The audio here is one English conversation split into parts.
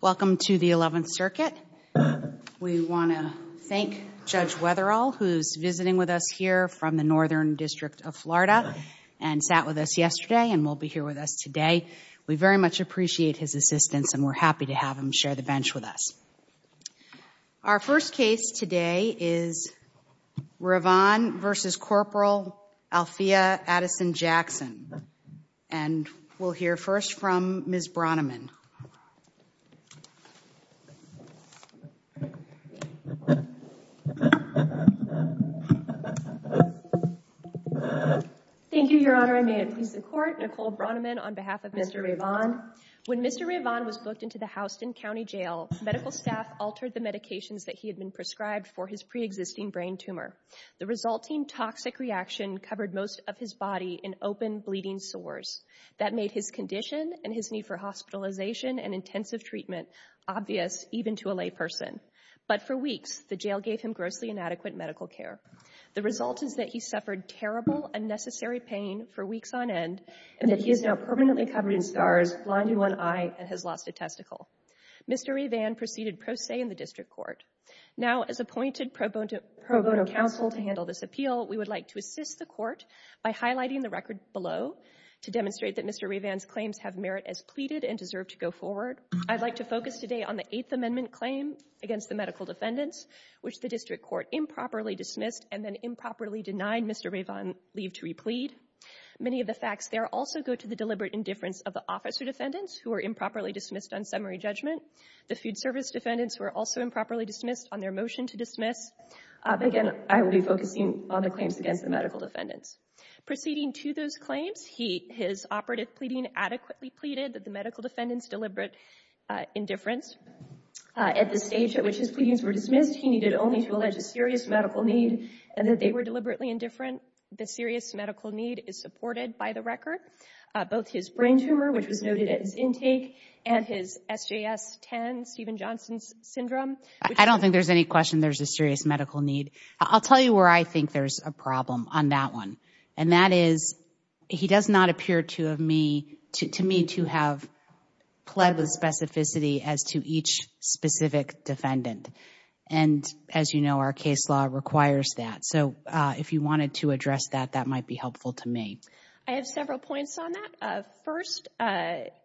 Welcome to the Eleventh Circuit. We want to thank Judge Wetherall who is visiting with us here from the Northern District of Florida and sat with us yesterday and will be here with us today. We very much appreciate his assistance and we are happy to have him share the bench with us. Our first case today is Ravan v. Corporal Althea Addison Jackson and we will hear first from Ms. Braunemann. Thank you, Your Honor. I may it please the Court. Nicole Braunemann on behalf of Mr. Ravan. When Mr. Ravan was booked into the Houston County Jail, medical staff altered the medications that he had been prescribed for his pre-existing brain tumor. The resulting toxic reaction covered most of his body in open bleeding sores that made his condition and his need for hospitalization and intensive treatment obvious even to a lay person. But for weeks, the jail gave him grossly inadequate medical care. The result is that he suffered terrible, unnecessary pain for weeks on end and that he is now permanently covered in scars, blinding one eye, and has lost a testicle. Mr. Ravan proceeded pro se in the District Court. Now as appointed pro bono counsel to handle this appeal, we would like to assist the Court by highlighting the record below to demonstrate that Mr. Ravan's claims have merit as pleaded and deserve to go forward. I would like to focus today on the Eighth Amendment claim against the medical defendants, which the District Court improperly dismissed and then improperly denied Mr. Ravan leave to replead. Many of the facts there also go to the deliberate indifference of the officer defendants who were improperly dismissed on summary judgment. The food service defendants were also improperly dismissed on their motion to dismiss. Again, I will be focusing on the claims against the medical defendants. Proceeding to those claims, his operative pleading adequately pleaded that the medical defendants deliberate indifference. At the stage at which his pleadings were dismissed, he needed only to allege a serious medical need and that they were deliberately indifferent. The serious medical need is supported by the record. Both his brain tumor, which was noted at his intake, and his SJS-10, Stephen Johnson's syndrome. I don't think there's any question there's a serious medical need. I'll tell you where I think there's a problem on that one. And that is, he does not appear to me to have pled the specificity as to each specific defendant. And as you know, our case law requires that. So if you wanted to address that, that might be helpful to me. I have several points on that. First,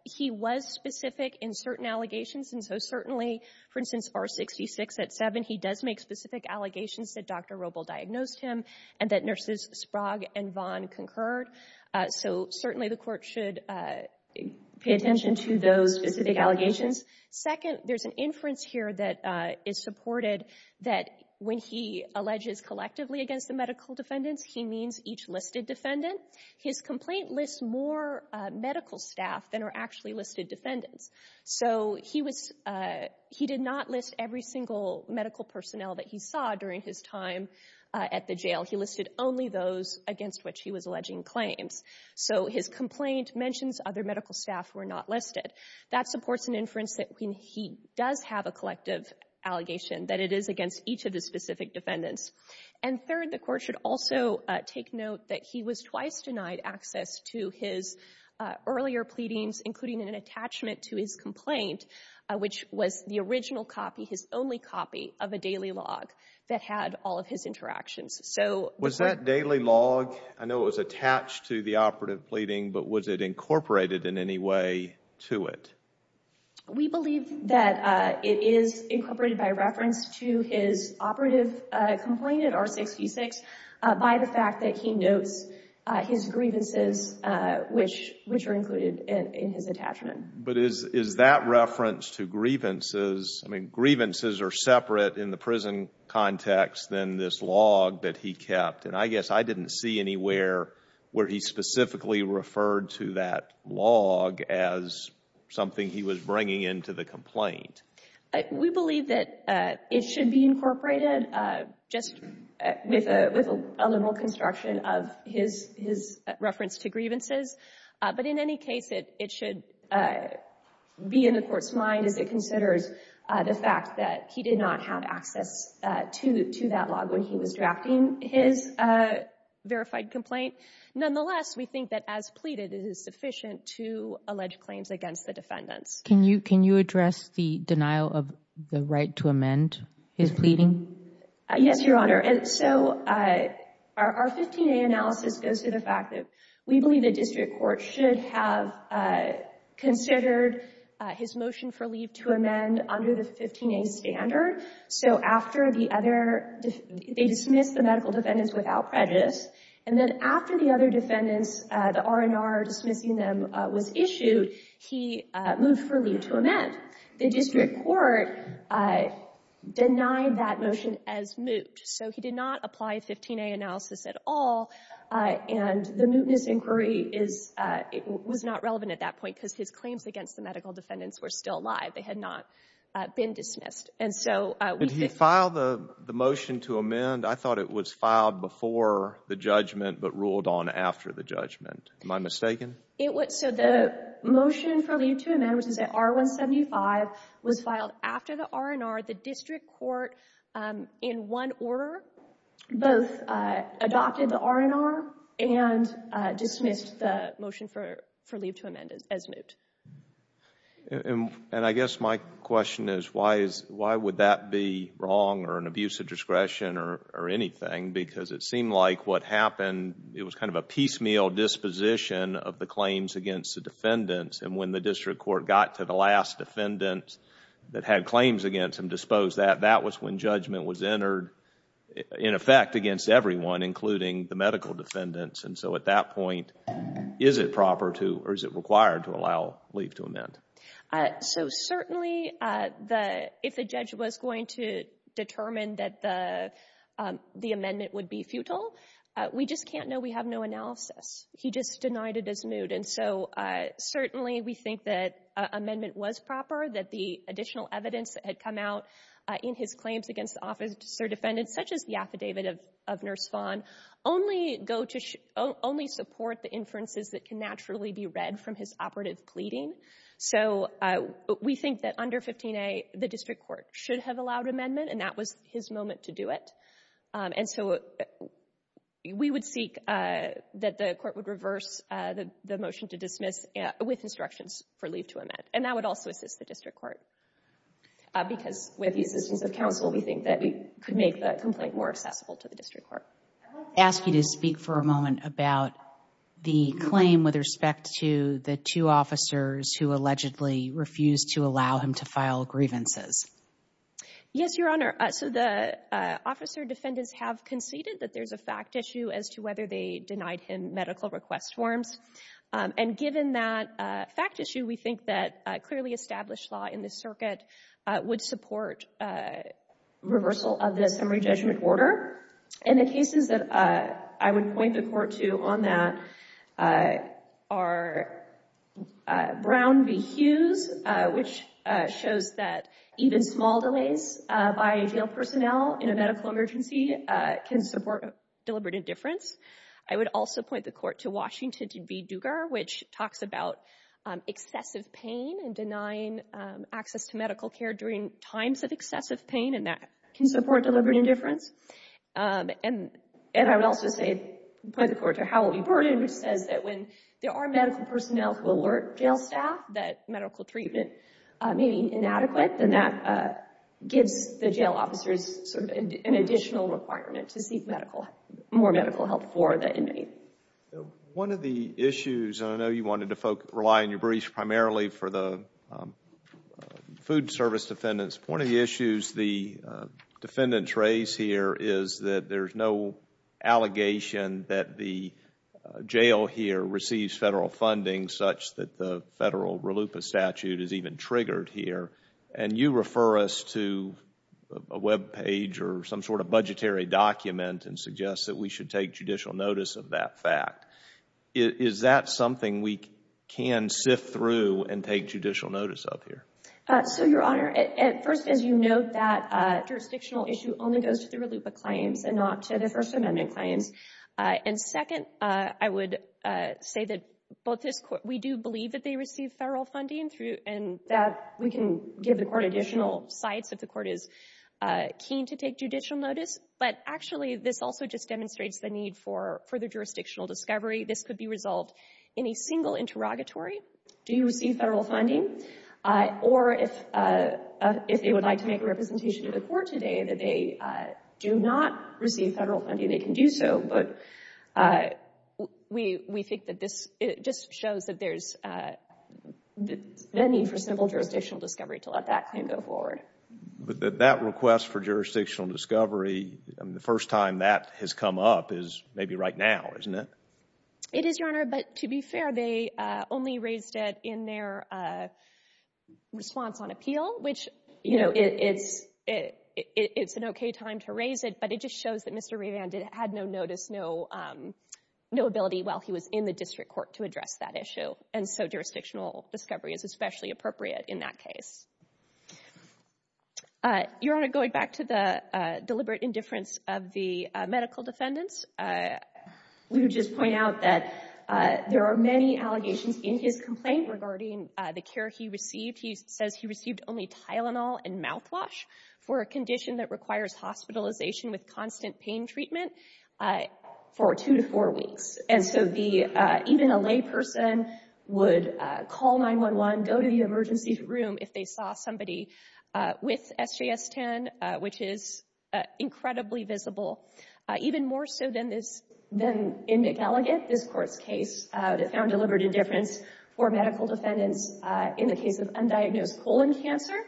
he was specific in certain allegations. And so certainly, for instance, R66 at 7, he does make specific allegations that Dr. Roble diagnosed him and that nurses Sprague and Vaughn concurred. So certainly the Court should pay attention to those specific allegations. Second, there's an inference here that is supported that when he alleges collectively against the medical defendants, he means each listed defendant. His complaint lists more medical staff than are actually listed defendants. So he was — he did not list every single medical personnel that he saw during his time at the jail. He listed only those against which he was alleging claims. So his complaint mentions other medical staff were not listed. That supports an inference that when he does have a collective allegation, that it is against each of the specific defendants. And third, the Court should also take note that he was twice denied access to his earlier pleadings, including an attachment to his complaint, which was the original copy, his only copy of a daily log that had all of his interactions. So — Was that daily log — I know it was attached to the operative pleading, but was it incorporated in any way to it? We believe that it is incorporated by reference to his operative complaint at R66 by the fact that he notes his grievances, which are included in his attachment. But is that reference to grievances — I mean, grievances are separate in the prison context than this log that he kept. And I guess I didn't see anywhere where he specifically referred to that log as something he was bringing into the complaint. We believe that it should be incorporated just with a little construction of his reference to grievances. But in any case, it should be in the Court's mind as it considers the fact that he did not have access to that log when he was drafting his verified complaint. Nonetheless, we think that as pleaded, it is sufficient to allege claims against the defendants. Can you address the denial of the right to amend his pleading? Yes, Your Honor. And so our 15A analysis goes to the fact that we believe the district court should have considered his motion for leave to amend under the 15A standard. So after the other — they dismissed the medical defendants without prejudice. And then after the other defendants, the R&R dismissing them was issued, he moved for leave to amend. The district court denied that motion as moot. So he did not apply 15A analysis at all. And the mootness inquiry is — it was not relevant at that point because his claims against the medical defendants were still alive. They had not been dismissed. And so — Did he file the motion to amend? I thought it was filed before the judgment but ruled on after the judgment. Am I mistaken? So the motion for leave to amend, which is at R175, was filed after the R&R. The district court, in one order, both adopted the R&R and dismissed the motion for leave to amend as moot. And I guess my question is why is — why would that be wrong or an abuse of discretion or anything because it seemed like what happened, it was kind of a piecemeal disposition of the claims against the defendants. And when the district court got to the last defendant that had claims against and disposed that, that was when judgment was entered, in effect, against everyone, including the medical defendants. And so at that point, is it proper to — or is it required to allow leave to amend? So certainly, if the judge was going to determine that the amendment would be futile, we just can't know. We have no analysis. He just denied it as moot. And so certainly, we think that amendment was proper, that the additional evidence that had come out in his claims against officer defendants, such as the affidavit of Nurse Vaughn, only go to — only support the inferences that can naturally be read from his operative pleading. So we think that under 15a, the district court should have allowed amendment, and that was his moment to do it. And so we would seek that the court would reverse the motion to dismiss with instructions for leave to amend. And that would also assist the district court, because with the assistance of counsel, we think that we could make the complaint more accessible to the district court. I want to ask you to speak for a moment about the claim with respect to the two officers who allegedly refused to allow him to file grievances. Yes, Your Honor. So the officer defendants have conceded that there's a fact issue as to whether they denied him medical request forms. And given that fact issue, we think that a clearly established law in the circuit would support reversal of the summary judgment order. And the cases that I would point the court to on that are Brown v. Hughes, which shows that even small delays by jail personnel in a medical emergency can support deliberate indifference. I would also point the court to Washington v. Dugar, which talks about excessive pain and denying access to medical care during times of excessive pain, and that can support deliberate indifference. And I would also point the court to Howell v. Burden, which says that when there are medical personnel who alert jail staff that medical treatment may be inadequate, then that gives the jail officers sort of an additional requirement to seek more medical help for the inmate. One of the issues, and I know you wanted to rely on your briefs primarily for the food service defendants. One of the issues the defendants raise here is that there's no allegation that the jail here receives Federal funding such that the Federal RELUPA statute is even triggered here. And you refer us to a webpage or some sort of budgetary document and suggest that we should take judicial notice of that fact. Is that something we can sift through and take judicial notice of here? So, Your Honor, first, as you note, that jurisdictional issue only goes to the RELUPA claims and not to the First Amendment claims. And second, I would say that we do believe that they receive Federal funding and that we can give the court additional sites if the court is keen to take judicial notice. But actually, this also just demonstrates the need for further jurisdictional discovery. This could be resolved in a single interrogatory. Do you receive Federal funding? Or if they would like to make a representation to the court today that they do not receive Federal funding, they can do so. But we think that this just shows that there's a need for simple jurisdictional discovery to let that claim go forward. But that request for jurisdictional discovery, the first time that has come up is maybe right now, isn't it? It is, Your Honor. But to be fair, they only raised it in their response on appeal, which it's an OK time to raise it. But it just shows that Mr. Rivand had no notice, no ability while he was in the district court to address that issue. And so jurisdictional discovery is especially appropriate in that case. Your Honor, going back to the deliberate indifference of the medical defendants, we would just point out that there are many allegations in his complaint regarding the care he received. He says he received only Tylenol and mouthwash for a condition that requires hospitalization with constant pain treatment for two to four weeks. And so even a layperson would call 911, go to the emergency room if they saw somebody with SJS-10, which is incredibly visible, even more so than in McElligot, this court's that found deliberate indifference for medical defendants in the case of undiagnosed colon cancer.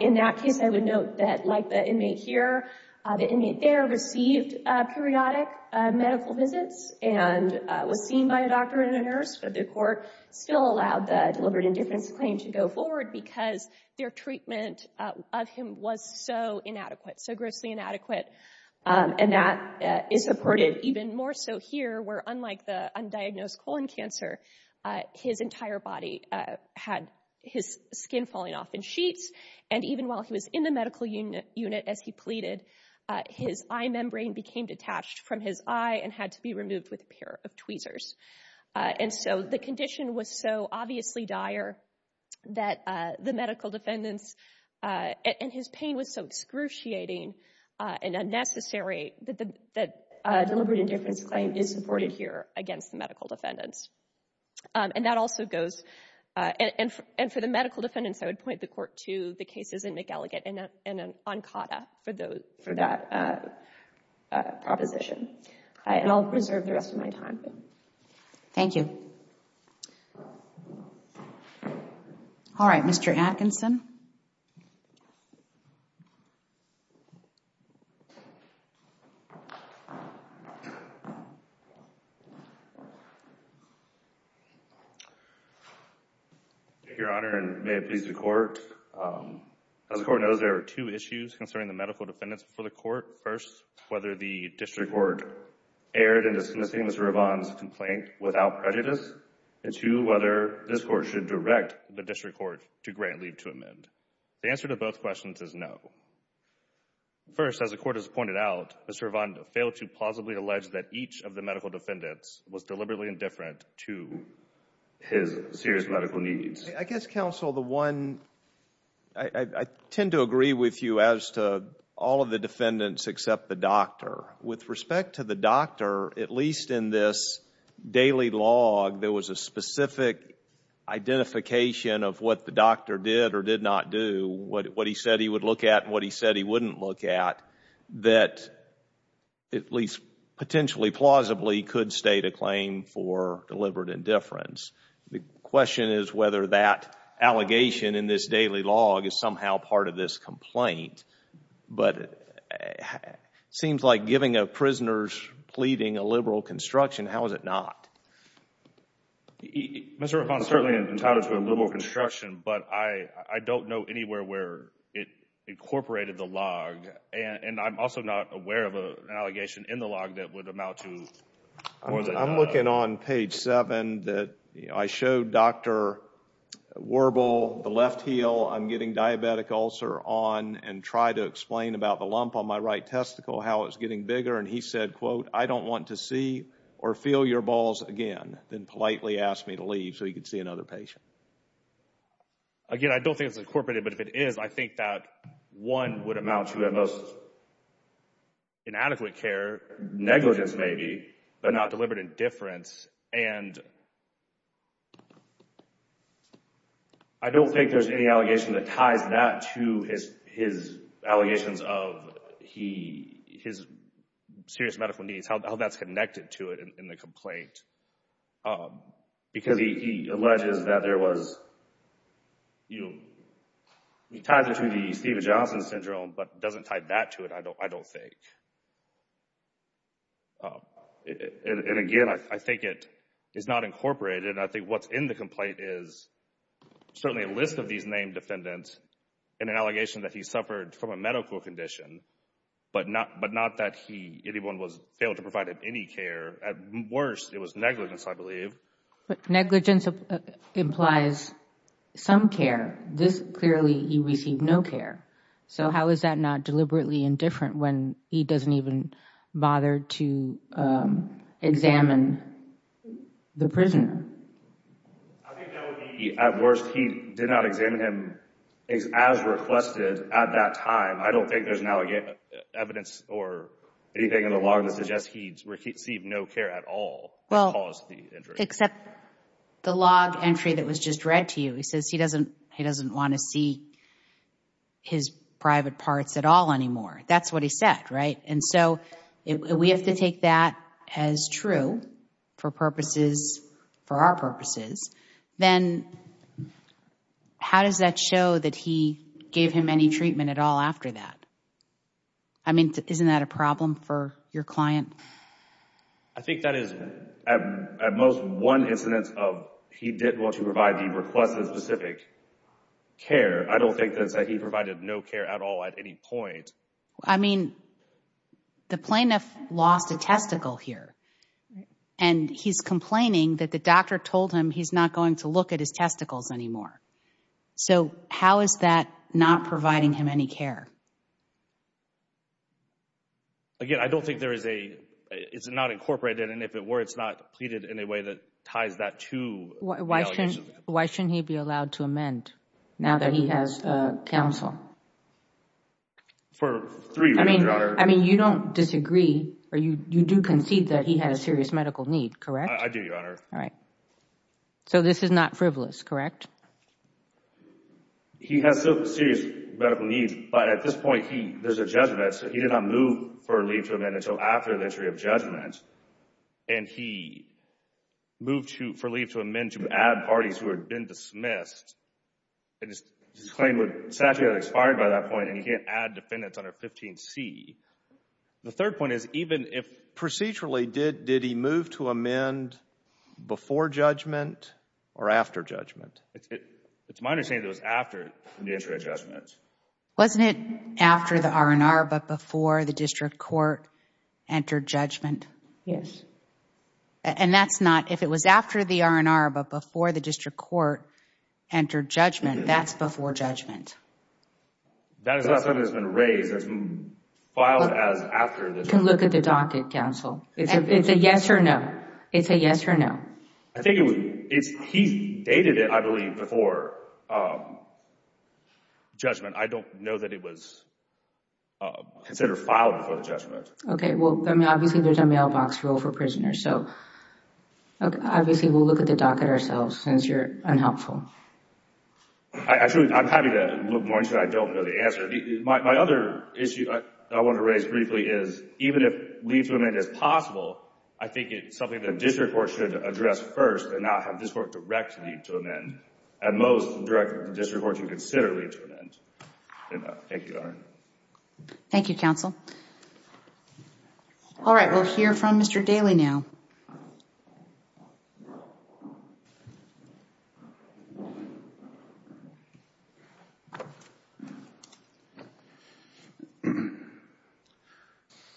In that case, I would note that like the inmate here, the inmate there received periodic medical visits and was seen by a doctor and a nurse, but the court still allowed the deliberate indifference claim to go forward because their treatment of him was so inadequate, so grossly inadequate. And that is supported even more so here, where unlike the undiagnosed colon cancer, his entire body had his skin falling off in sheets. And even while he was in the medical unit as he pleaded, his eye membrane became detached from his eye and had to be removed with a pair of tweezers. And so the condition was so obviously dire that the medical defendants and his pain was so excruciating and unnecessary that the deliberate indifference claim is supported here against the medical defendants. And that also goes, and for the medical defendants, I would point the court to the cases in McElligot and Ancada for that proposition. And I'll reserve the rest of my time. Thank you. All right, Mr. Atkinson. Thank you, Your Honor, and may it please the court. As the court knows, there are two issues concerning the medical defendants before the court. First, whether the district court erred in dismissing Mr. Rivon's complaint without prejudice. And two, whether this court should direct the district court to grant leave to amend. The answer to both questions is no. First, as the court has pointed out, Mr. Rivon failed to plausibly allege that each of the medical defendants was deliberately indifferent to his serious medical needs. I guess, counsel, the one, I tend to agree with you as to all of the defendants except the doctor. With respect to the doctor, at least in this daily log, there was a specific identification of what the doctor did or did not do, what he said he would look at and what he said he wouldn't look at, that at least potentially plausibly could state a claim for deliberate indifference. The question is whether that allegation in this daily log is somehow part of this complaint. But it seems like giving a prisoner's pleading a liberal construction, how is it not? Mr. Rivon certainly entitled to a liberal construction, but I don't know anywhere where it incorporated the log. And I'm also not aware of an allegation in the log that would amount to more than that. I'm looking on page seven that I showed Dr. Warble the left heel. I'm getting diabetic ulcer on and try to explain about the lump on my right testicle, how it's getting bigger. And he said, quote, I don't want to see or feel your balls again, then politely asked me to leave so he could see another patient. Again, I don't think it's incorporated, but if it is, I think that one would amount to the most inadequate care, negligence maybe, but not deliberate indifference. And I don't think there's any allegation that ties that to his allegations of his serious medical needs, how that's connected to it in the complaint. Because he alleges that there was, you know, he ties it to the Steven Johnson syndrome, but doesn't tie that to it, I don't think. And again, I think it is not incorporated. I think what's in the complaint is certainly a list of these named defendants and an allegation that he suffered from a medical condition, but not that anyone was able to provide him any care. At worst, it was negligence, I believe. But negligence implies some care. This, clearly, he received no care. So how is that not deliberately indifferent when he doesn't even bother to examine the prisoner? I think that would be, at worst, he did not examine him as requested at that time. I don't think there's an evidence or anything in the log that suggests he received no care at all that caused the injury. Except the log entry that was just read to you. He says he doesn't want to see his private parts at all anymore. That's what he said, right? And so we have to take that as true for purposes, for our purposes. Then how does that show that he gave him any treatment at all after that? I mean, isn't that a problem for your client? I think that is, at most, one incidence of he didn't want to provide the requested specific care. I don't think that he provided no care at all at any point. I mean, the plaintiff lost a testicle here, and he's complaining that the doctor told him he's not going to look at his testicles anymore. So how is that not providing him any care? Again, I don't think there is a, it's not incorporated, and if it were, it's not pleaded in a way that ties that to the allegations. Why shouldn't he be allowed to amend, now that he has counsel? For three reasons, Your Honor. I mean, you don't disagree, or you do concede that he had a serious medical need, correct? I do, Your Honor. All right. So this is not frivolous, correct? He has serious medical needs, but at this point, there's a judgment, so he did not move for leave to amend until after the entry of judgment, and he moved for leave to amend to add parties who had been dismissed, and his claim would, sadly, have expired by that point, and he can't add defendants under 15C. The third point is, even if procedurally, did he move to amend before judgment or after judgment? It's my understanding that it was after the entry of judgment. Wasn't it after the R&R, but before the district court entered judgment? Yes. And that's not, if it was after the R&R, but before the district court entered judgment, that's before judgment. That is not something that's been raised. That's been filed as after the judgment. You can look at the docket, counsel. It's a yes or no. It's a yes or no. I think it would, he dated it, I believe, before judgment. I don't know that it was considered filed before the judgment. Okay, well, I mean, obviously, there's a mailbox rule for prisoners, so obviously, we'll look at the docket ourselves since you're unhelpful. Actually, I'm happy to look more into it. I don't know the answer. My other issue that I want to raise briefly is, even if leave to amend is possible, I think it's something the district court should address first and not have the district court directly to amend. At most, the district court should consider leave to amend. Thank you, Your Honor. Thank you, counsel. All right, we'll hear from Mr. Daley now.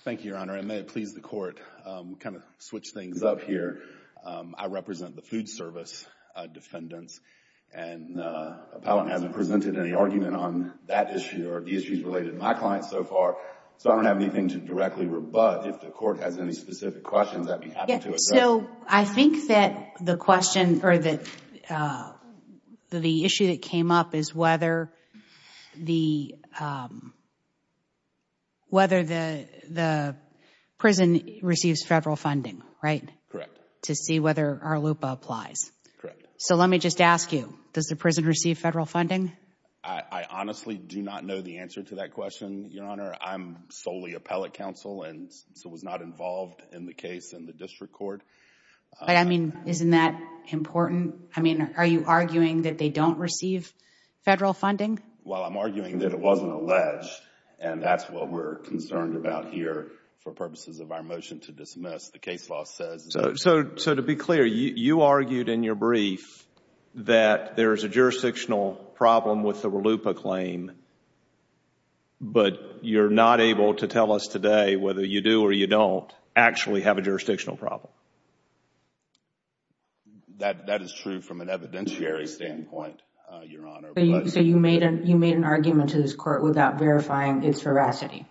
Thank you, Your Honor, and may it please the court. We'll kind of switch things up here. I represent the food service defendants, and the appellant hasn't presented any argument on that issue or the issues related to my client so far, so I don't have anything to directly rebut. If the court has any specific questions, I'd be happy to address them. Yes, so I think that the question or the issue that came up is whether the prison receives federal funding, right? Correct. To see whether our LUPA applies. Correct. So let me just ask you, does the prison receive federal funding? I honestly do not know the answer to that question, Your Honor. I'm solely appellate counsel and so was not involved in the case in the district court. But I mean, isn't that important? I mean, are you arguing that they don't receive federal funding? Well, I'm arguing that it wasn't alleged and that's what we're concerned about here for purposes of our motion to dismiss. The case law says... So to be clear, you argued in your brief that there is a jurisdictional problem with the LUPA claim, but you're not able to tell us today whether you do or you don't actually have a jurisdictional problem. That is true from an evidentiary standpoint, Your Honor. So you made an argument to this court without verifying its veracity?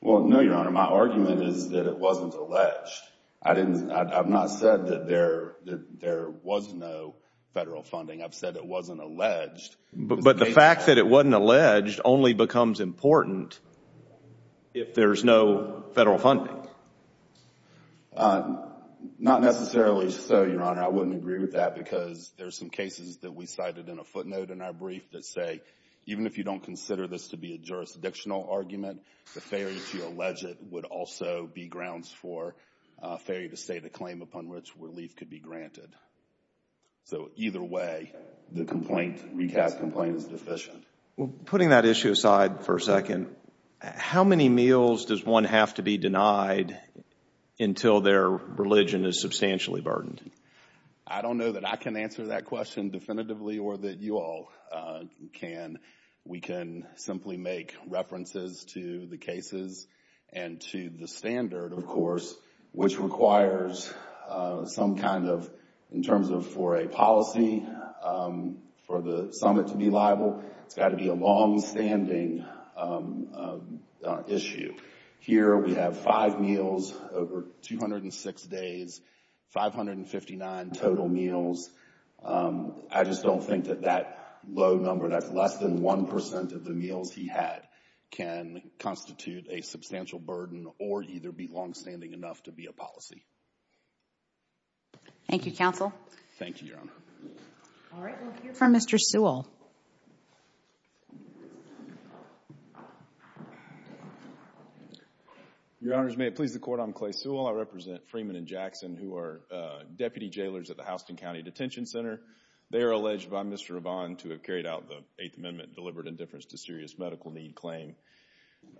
Well, no, Your Honor. My argument is that it wasn't alleged. I've not said that there was no federal funding. I've said it wasn't alleged. But the fact that it wasn't alleged only becomes important if there's no federal funding. Not necessarily so, Your Honor. I wouldn't agree with that because there's some cases that we cited in a footnote in our brief that say even if you don't consider this to be a jurisdictional argument, the failure to allege it would also be grounds for failure to state a claim upon which relief could be granted. So either way, the complaint, recast complaint, is deficient. Putting that issue aside for a second, how many meals does one have to be denied until their religion is substantially burdened? I don't know that I can answer that question definitively or that you all can. We can simply make references to the cases and to the standard, of course, which requires some kind of, in terms of for a policy for the summit to be liable, it's got to be a longstanding issue. Here we have five meals over 206 days, 559 total meals. I just don't think that that low number, that's less than 1% of the meals he had, can constitute a substantial burden or either be longstanding enough to be a policy. Thank you, counsel. Thank you, Your Honor. All right, we'll hear from Mr. Sewell. Your Honors, may it please the Court, I'm Clay Sewell. I represent Freeman and Jackson, who are deputy jailers at the Houston County Detention Center. They are alleged by Mr. Ravon to have carried out the Eighth Amendment deliberate indifference to serious medical need claim.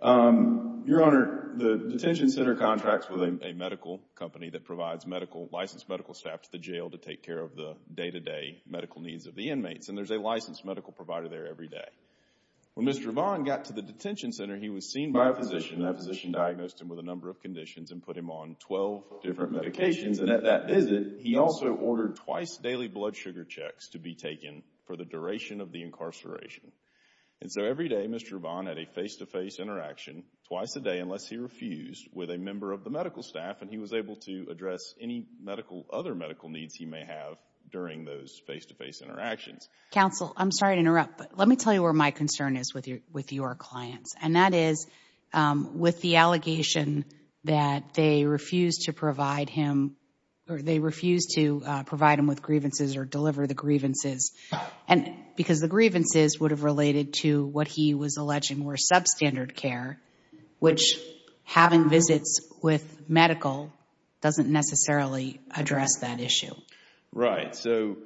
Your Honor, the detention center contracts with a medical company that provides medical, licensed medical staff to the jail to take care of the day-to-day medical needs of the inmates, and there's a licensed medical provider there every day. When Mr. Ravon got to the detention center, he was seen by a physician, and that physician diagnosed him with a number of conditions and put him on 12 different medications, and at that visit, he also ordered twice daily blood sugar checks to be taken for the duration of the incarceration. And so every day, Mr. Ravon had a face-to-face interaction, twice a day unless he refused, with a member of the medical staff, and he was able to address any other medical needs he may have during those face-to-face interactions. Counsel, I'm sorry to interrupt, but let me tell you where my concern is with your clients, and that is with the allegation that they refused to provide him, or they refused to provide him with grievances or deliver the grievances, because the grievances would have related to what he was alleging were substandard care, which having visits with medical doesn't necessarily address that issue. Right. So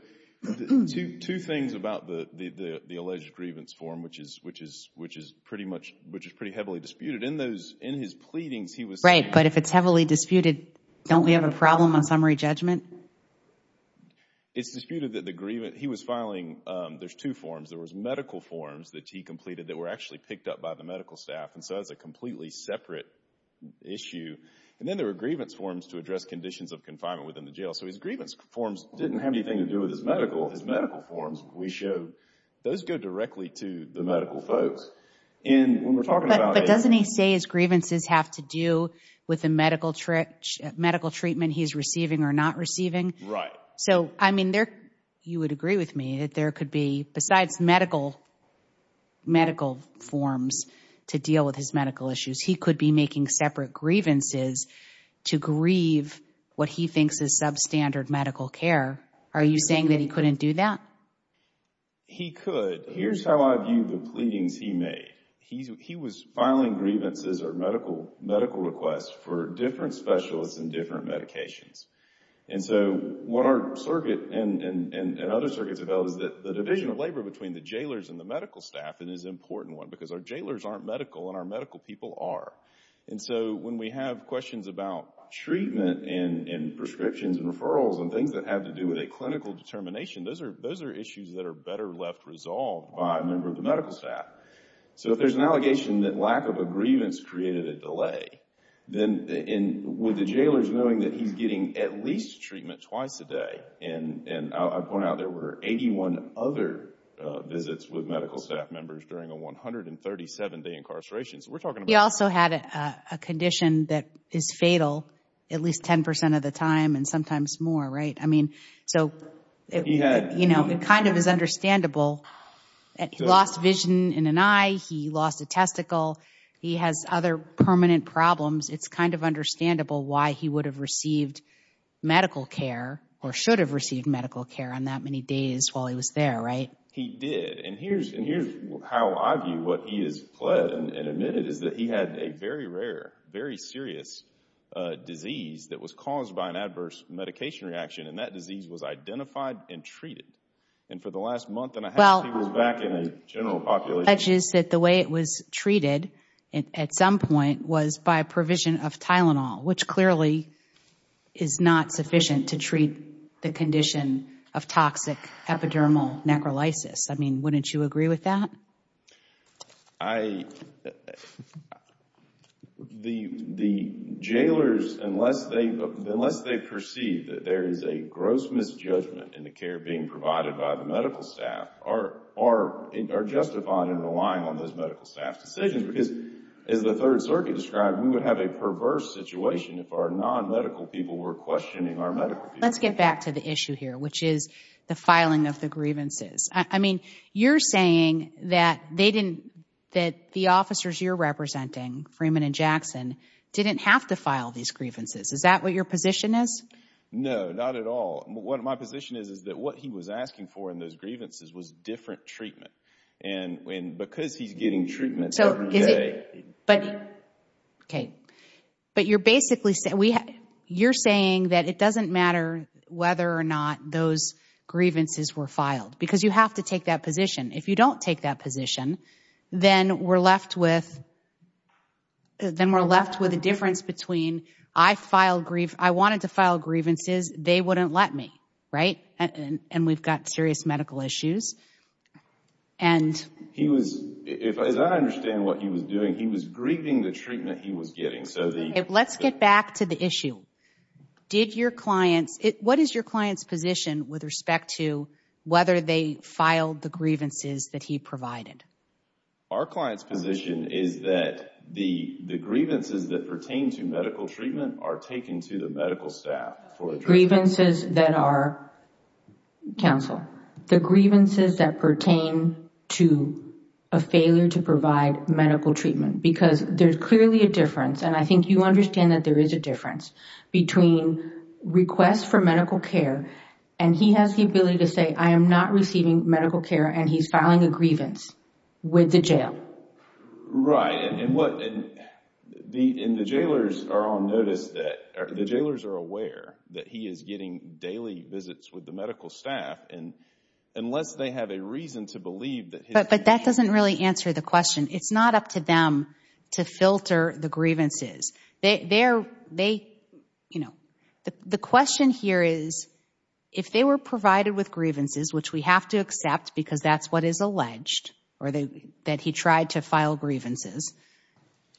two things about the alleged grievance form, which is pretty much, which is pretty heavily disputed. In those, in his pleadings, he was- Right, but if it's heavily disputed, don't we have a problem on summary judgment? It's disputed that the grievance, he was filing, there's two forms. There was medical forms that he completed that were actually picked up by the medical staff, and so that's a completely separate issue. And then there were grievance forms to address conditions of confinement within the jail. So his grievance forms didn't have anything to do with his medical, his medical forms. We showed, those go directly to the medical folks. And when we're talking about- But doesn't he say his grievances have to do with the medical treatment he's receiving or not receiving? Right. So, I mean, there, you would agree with me that there could be, besides medical forms to deal with his medical issues, he could be making separate grievances to grieve what he thinks is substandard medical care. Are you saying that he couldn't do that? He could. Here's how I view the pleadings he made. He was filing grievances or medical requests for different specialists and different medications. And so what our circuit and other circuits have held is that the division of labor between the jailers and the medical staff is an important one because our jailers aren't medical and our medical people are. And so when we have questions about treatment and prescriptions and referrals and things that have to do with a clinical determination, those are, those are issues that are better left resolved by a member of the medical staff. So if there's an allegation that lack of a grievance created a delay, then, and with the jailers knowing that he's getting at least treatment twice a day, and I point out there were 81 other visits with medical staff members during a 137-day incarceration. So we're talking about- He also had a condition that is fatal at least 10% of the time and sometimes more, right? I mean, so it kind of is understandable that he lost vision in an eye. He lost a testicle. He has other permanent problems. It's kind of understandable why he would have received medical care or should have received medical care on that many days while he was there, right? He did. And here's, and here's how I view what he has pled and admitted is that he had a very rare, very serious disease that was caused by an adverse medication reaction and that disease was identified and treated. And for the last month and a half he was back in a general population- Well, the way it was treated at some point was by a provision of Tylenol, which clearly is not sufficient to treat the condition of toxic epidermal necrolysis. I mean, wouldn't you agree with that? I, the, the jailers, unless they, unless they perceive that there is a gross misjudgment in the care being provided by the medical staff are, are, are justified in relying on those medical staff decisions because as the Third Circuit described, we would have a perverse situation if our non-medical people were questioning our medical people. Let's get back to the issue here, which is the filing of the grievances. I mean, you're saying that they didn't, that the officers you're representing, Freeman and Jackson, didn't have to file these grievances. Is that what your position is? No, not at all. What my position is, is that what he was asking for in those grievances was different treatment. And, and because he's getting treatment every day- So, is it, but, okay, but you're basically saying, we, you're saying that it doesn't matter whether or not those grievances were filed because you have to take that position. If you don't take that position, then we're left with, then we're left with a difference between I filed grief, I wanted to file grievances, they wouldn't let me, right? And we've got serious medical issues. And- He was, if, as I understand what he was doing, he was grieving the treatment he was getting. Let's get back to the issue. Did your clients, what is your client's position with respect to whether they filed the grievances that he provided? Our client's position is that the, the grievances that pertain to medical treatment are taken to the medical staff for- Grievances that are, counsel, the grievances that pertain to a failure to provide medical treatment, because there's clearly a difference, and I think you understand that there is a difference, between requests for medical care, and he has the ability to say, I am not receiving medical care, and he's filing a grievance with the jail. Right, and what, and the, and the jailers are on notice that, or the jailers are aware that he is getting daily visits with the medical staff, and unless they have a reason to believe But that doesn't really answer the question. It's not up to them to filter the grievances. They, they're, they, you know, the question here is, if they were provided with grievances, which we have to accept because that's what is alleged, or they, that he tried to file grievances,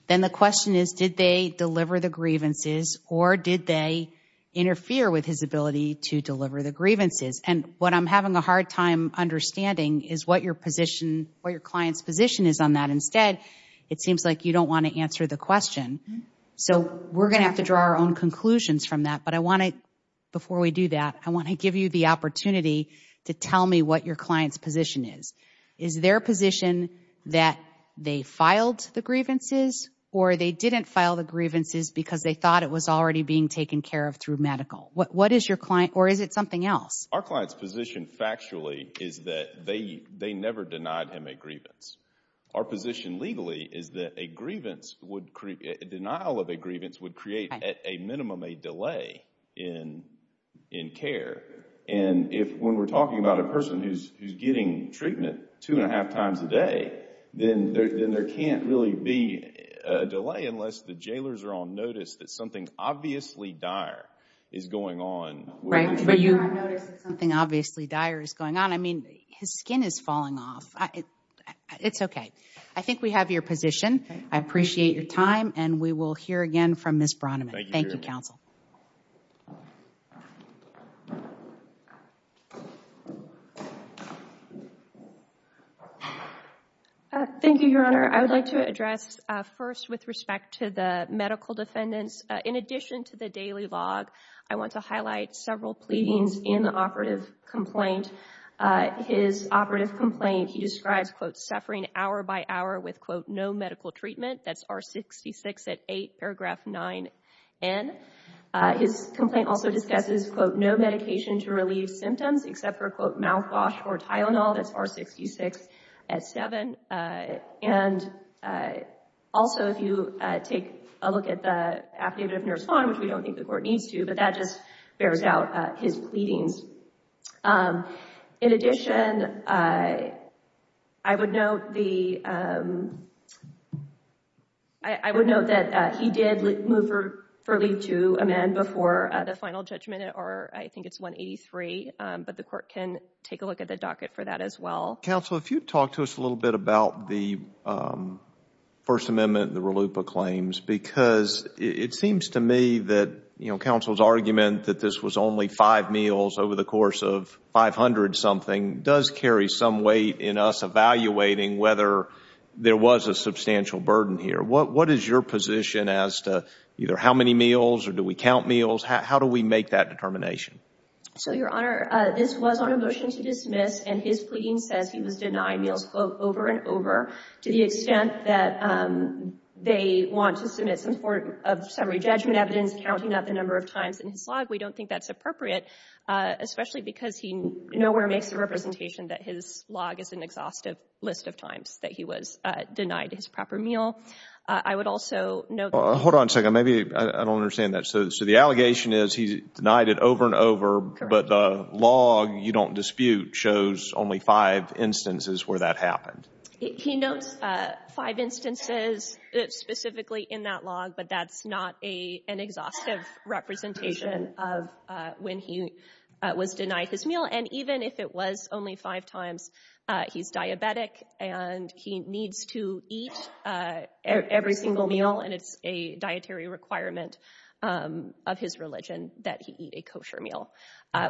then the question is, did they deliver the grievances, or did they interfere with his ability to deliver the grievances? And what I'm having a hard time understanding is what your position, what your client's position is on that. Instead, it seems like you don't want to answer the question, so we're going to have to draw our own conclusions from that, but I want to, before we do that, I want to give you the opportunity to tell me what your client's position is. Is their position that they filed the grievances, or they didn't file the grievances because they thought it was already being taken care of through medical? What is your client, or is it something else? Our client's position factually is that they, they never denied him a grievance. Our position legally is that a grievance would, denial of a grievance would create at a minimum a delay in, in care, and if, when we're talking about a person who's, who's getting treatment two and a half times a day, then there, then there can't really be a delay unless the jailers are on notice that something obviously dire is going on. Right, but you... If they're on notice that something obviously dire is going on, I mean, his skin is falling off. It's okay. I think we have your position. I appreciate your time, and we will hear again from Ms. Braunemann. Thank you, counsel. Thank you, Your Honor. I would like to address first with respect to the medical defendants. In addition to the daily log, I want to highlight several pleadings in the operative complaint. His operative complaint, he describes, quote, suffering hour by hour with, quote, no medical treatment. That's R66 at 8, paragraph 9N. His complaint also discusses, quote, no medication to relieve symptoms except for, quote, mouthwash or Tylenol. That's R66 at 7. And also, if you take a look at the affidavit of nurse Vaughn, which we don't think the court needs to, but that just bears out his pleadings. In addition, I would note that he did move for leave to amend before the final judgment or I think it's 183, but the court can take a look at the docket for that as well. Counsel, if you'd talk to us a little bit about the First Amendment, the RLUIPA claims, because it seems to me that, you know, counsel's argument that this was only five meals over the course of 500 something does carry some weight in us evaluating whether there was a substantial burden here. What is your position as to either how many meals or do we count meals? How do we make that determination? So, Your Honor, this was on a motion to dismiss and his pleading says he was denied meals, quote, over and over to the extent that they want to submit some summary judgment evidence counting up the number of times in his log. We don't think that's appropriate, especially because he nowhere makes the representation that his log is an exhaustive list of times that he was denied his proper meal. I would also note that Hold on a second. Maybe I don't understand that. So the allegation is he denied it over and over, but the log you don't dispute shows only five instances where that happened. He notes five instances specifically in that log, but that's not an exhaustive representation of when he was denied his meal. And even if it was only five times, he's diabetic and he needs to eat every single meal. And it's a dietary requirement of his religion that he eat a kosher meal,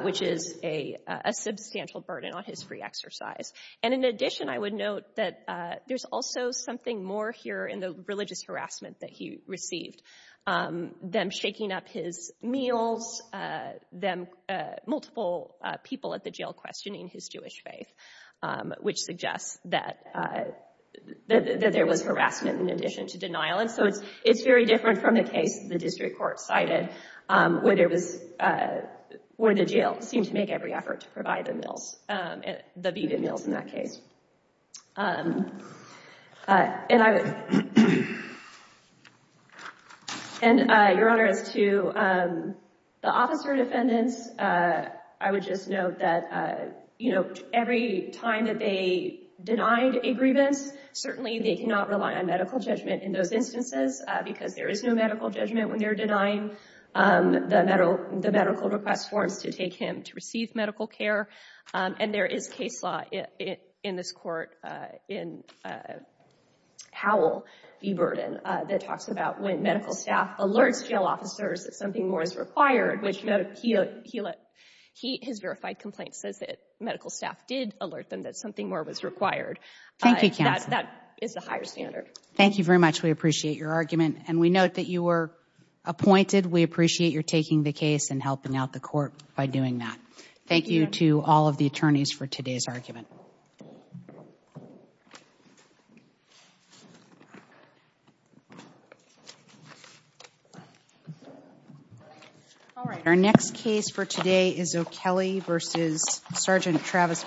which is a substantial burden on his free exercise. And in addition, I would note that there's also something more here in the religious harassment that he received, them shaking up his meals, them, multiple people at the jail questioning his Jewish faith, which suggests that there was harassment in addition to denial. And so it's very different from the case the district court cited, where the jail seemed to make every effort to provide the meals, the vegan meals in that case. And Your Honor, as to the officer defendants, I would just note that, you know, every time that they denied a grievance, certainly they cannot rely on medical judgment in those instances because there is no medical judgment when they're denying the medical request forms to take him to receive medical care. And there is case law in this court in Howell v. Burden that talks about when medical staff alerts jail officers that something more is required, which he, his verified complaint says that medical staff did alert them that something more was required. Thank you, counsel. That is the higher standard. Thank you very much. We appreciate your argument. And we note that you were appointed. We appreciate your taking the case and helping out the court by doing that. Thank you to all of the attorneys for today's argument. Thank you. All right, our next case for today is O'Kelley v. Sgt. Travis.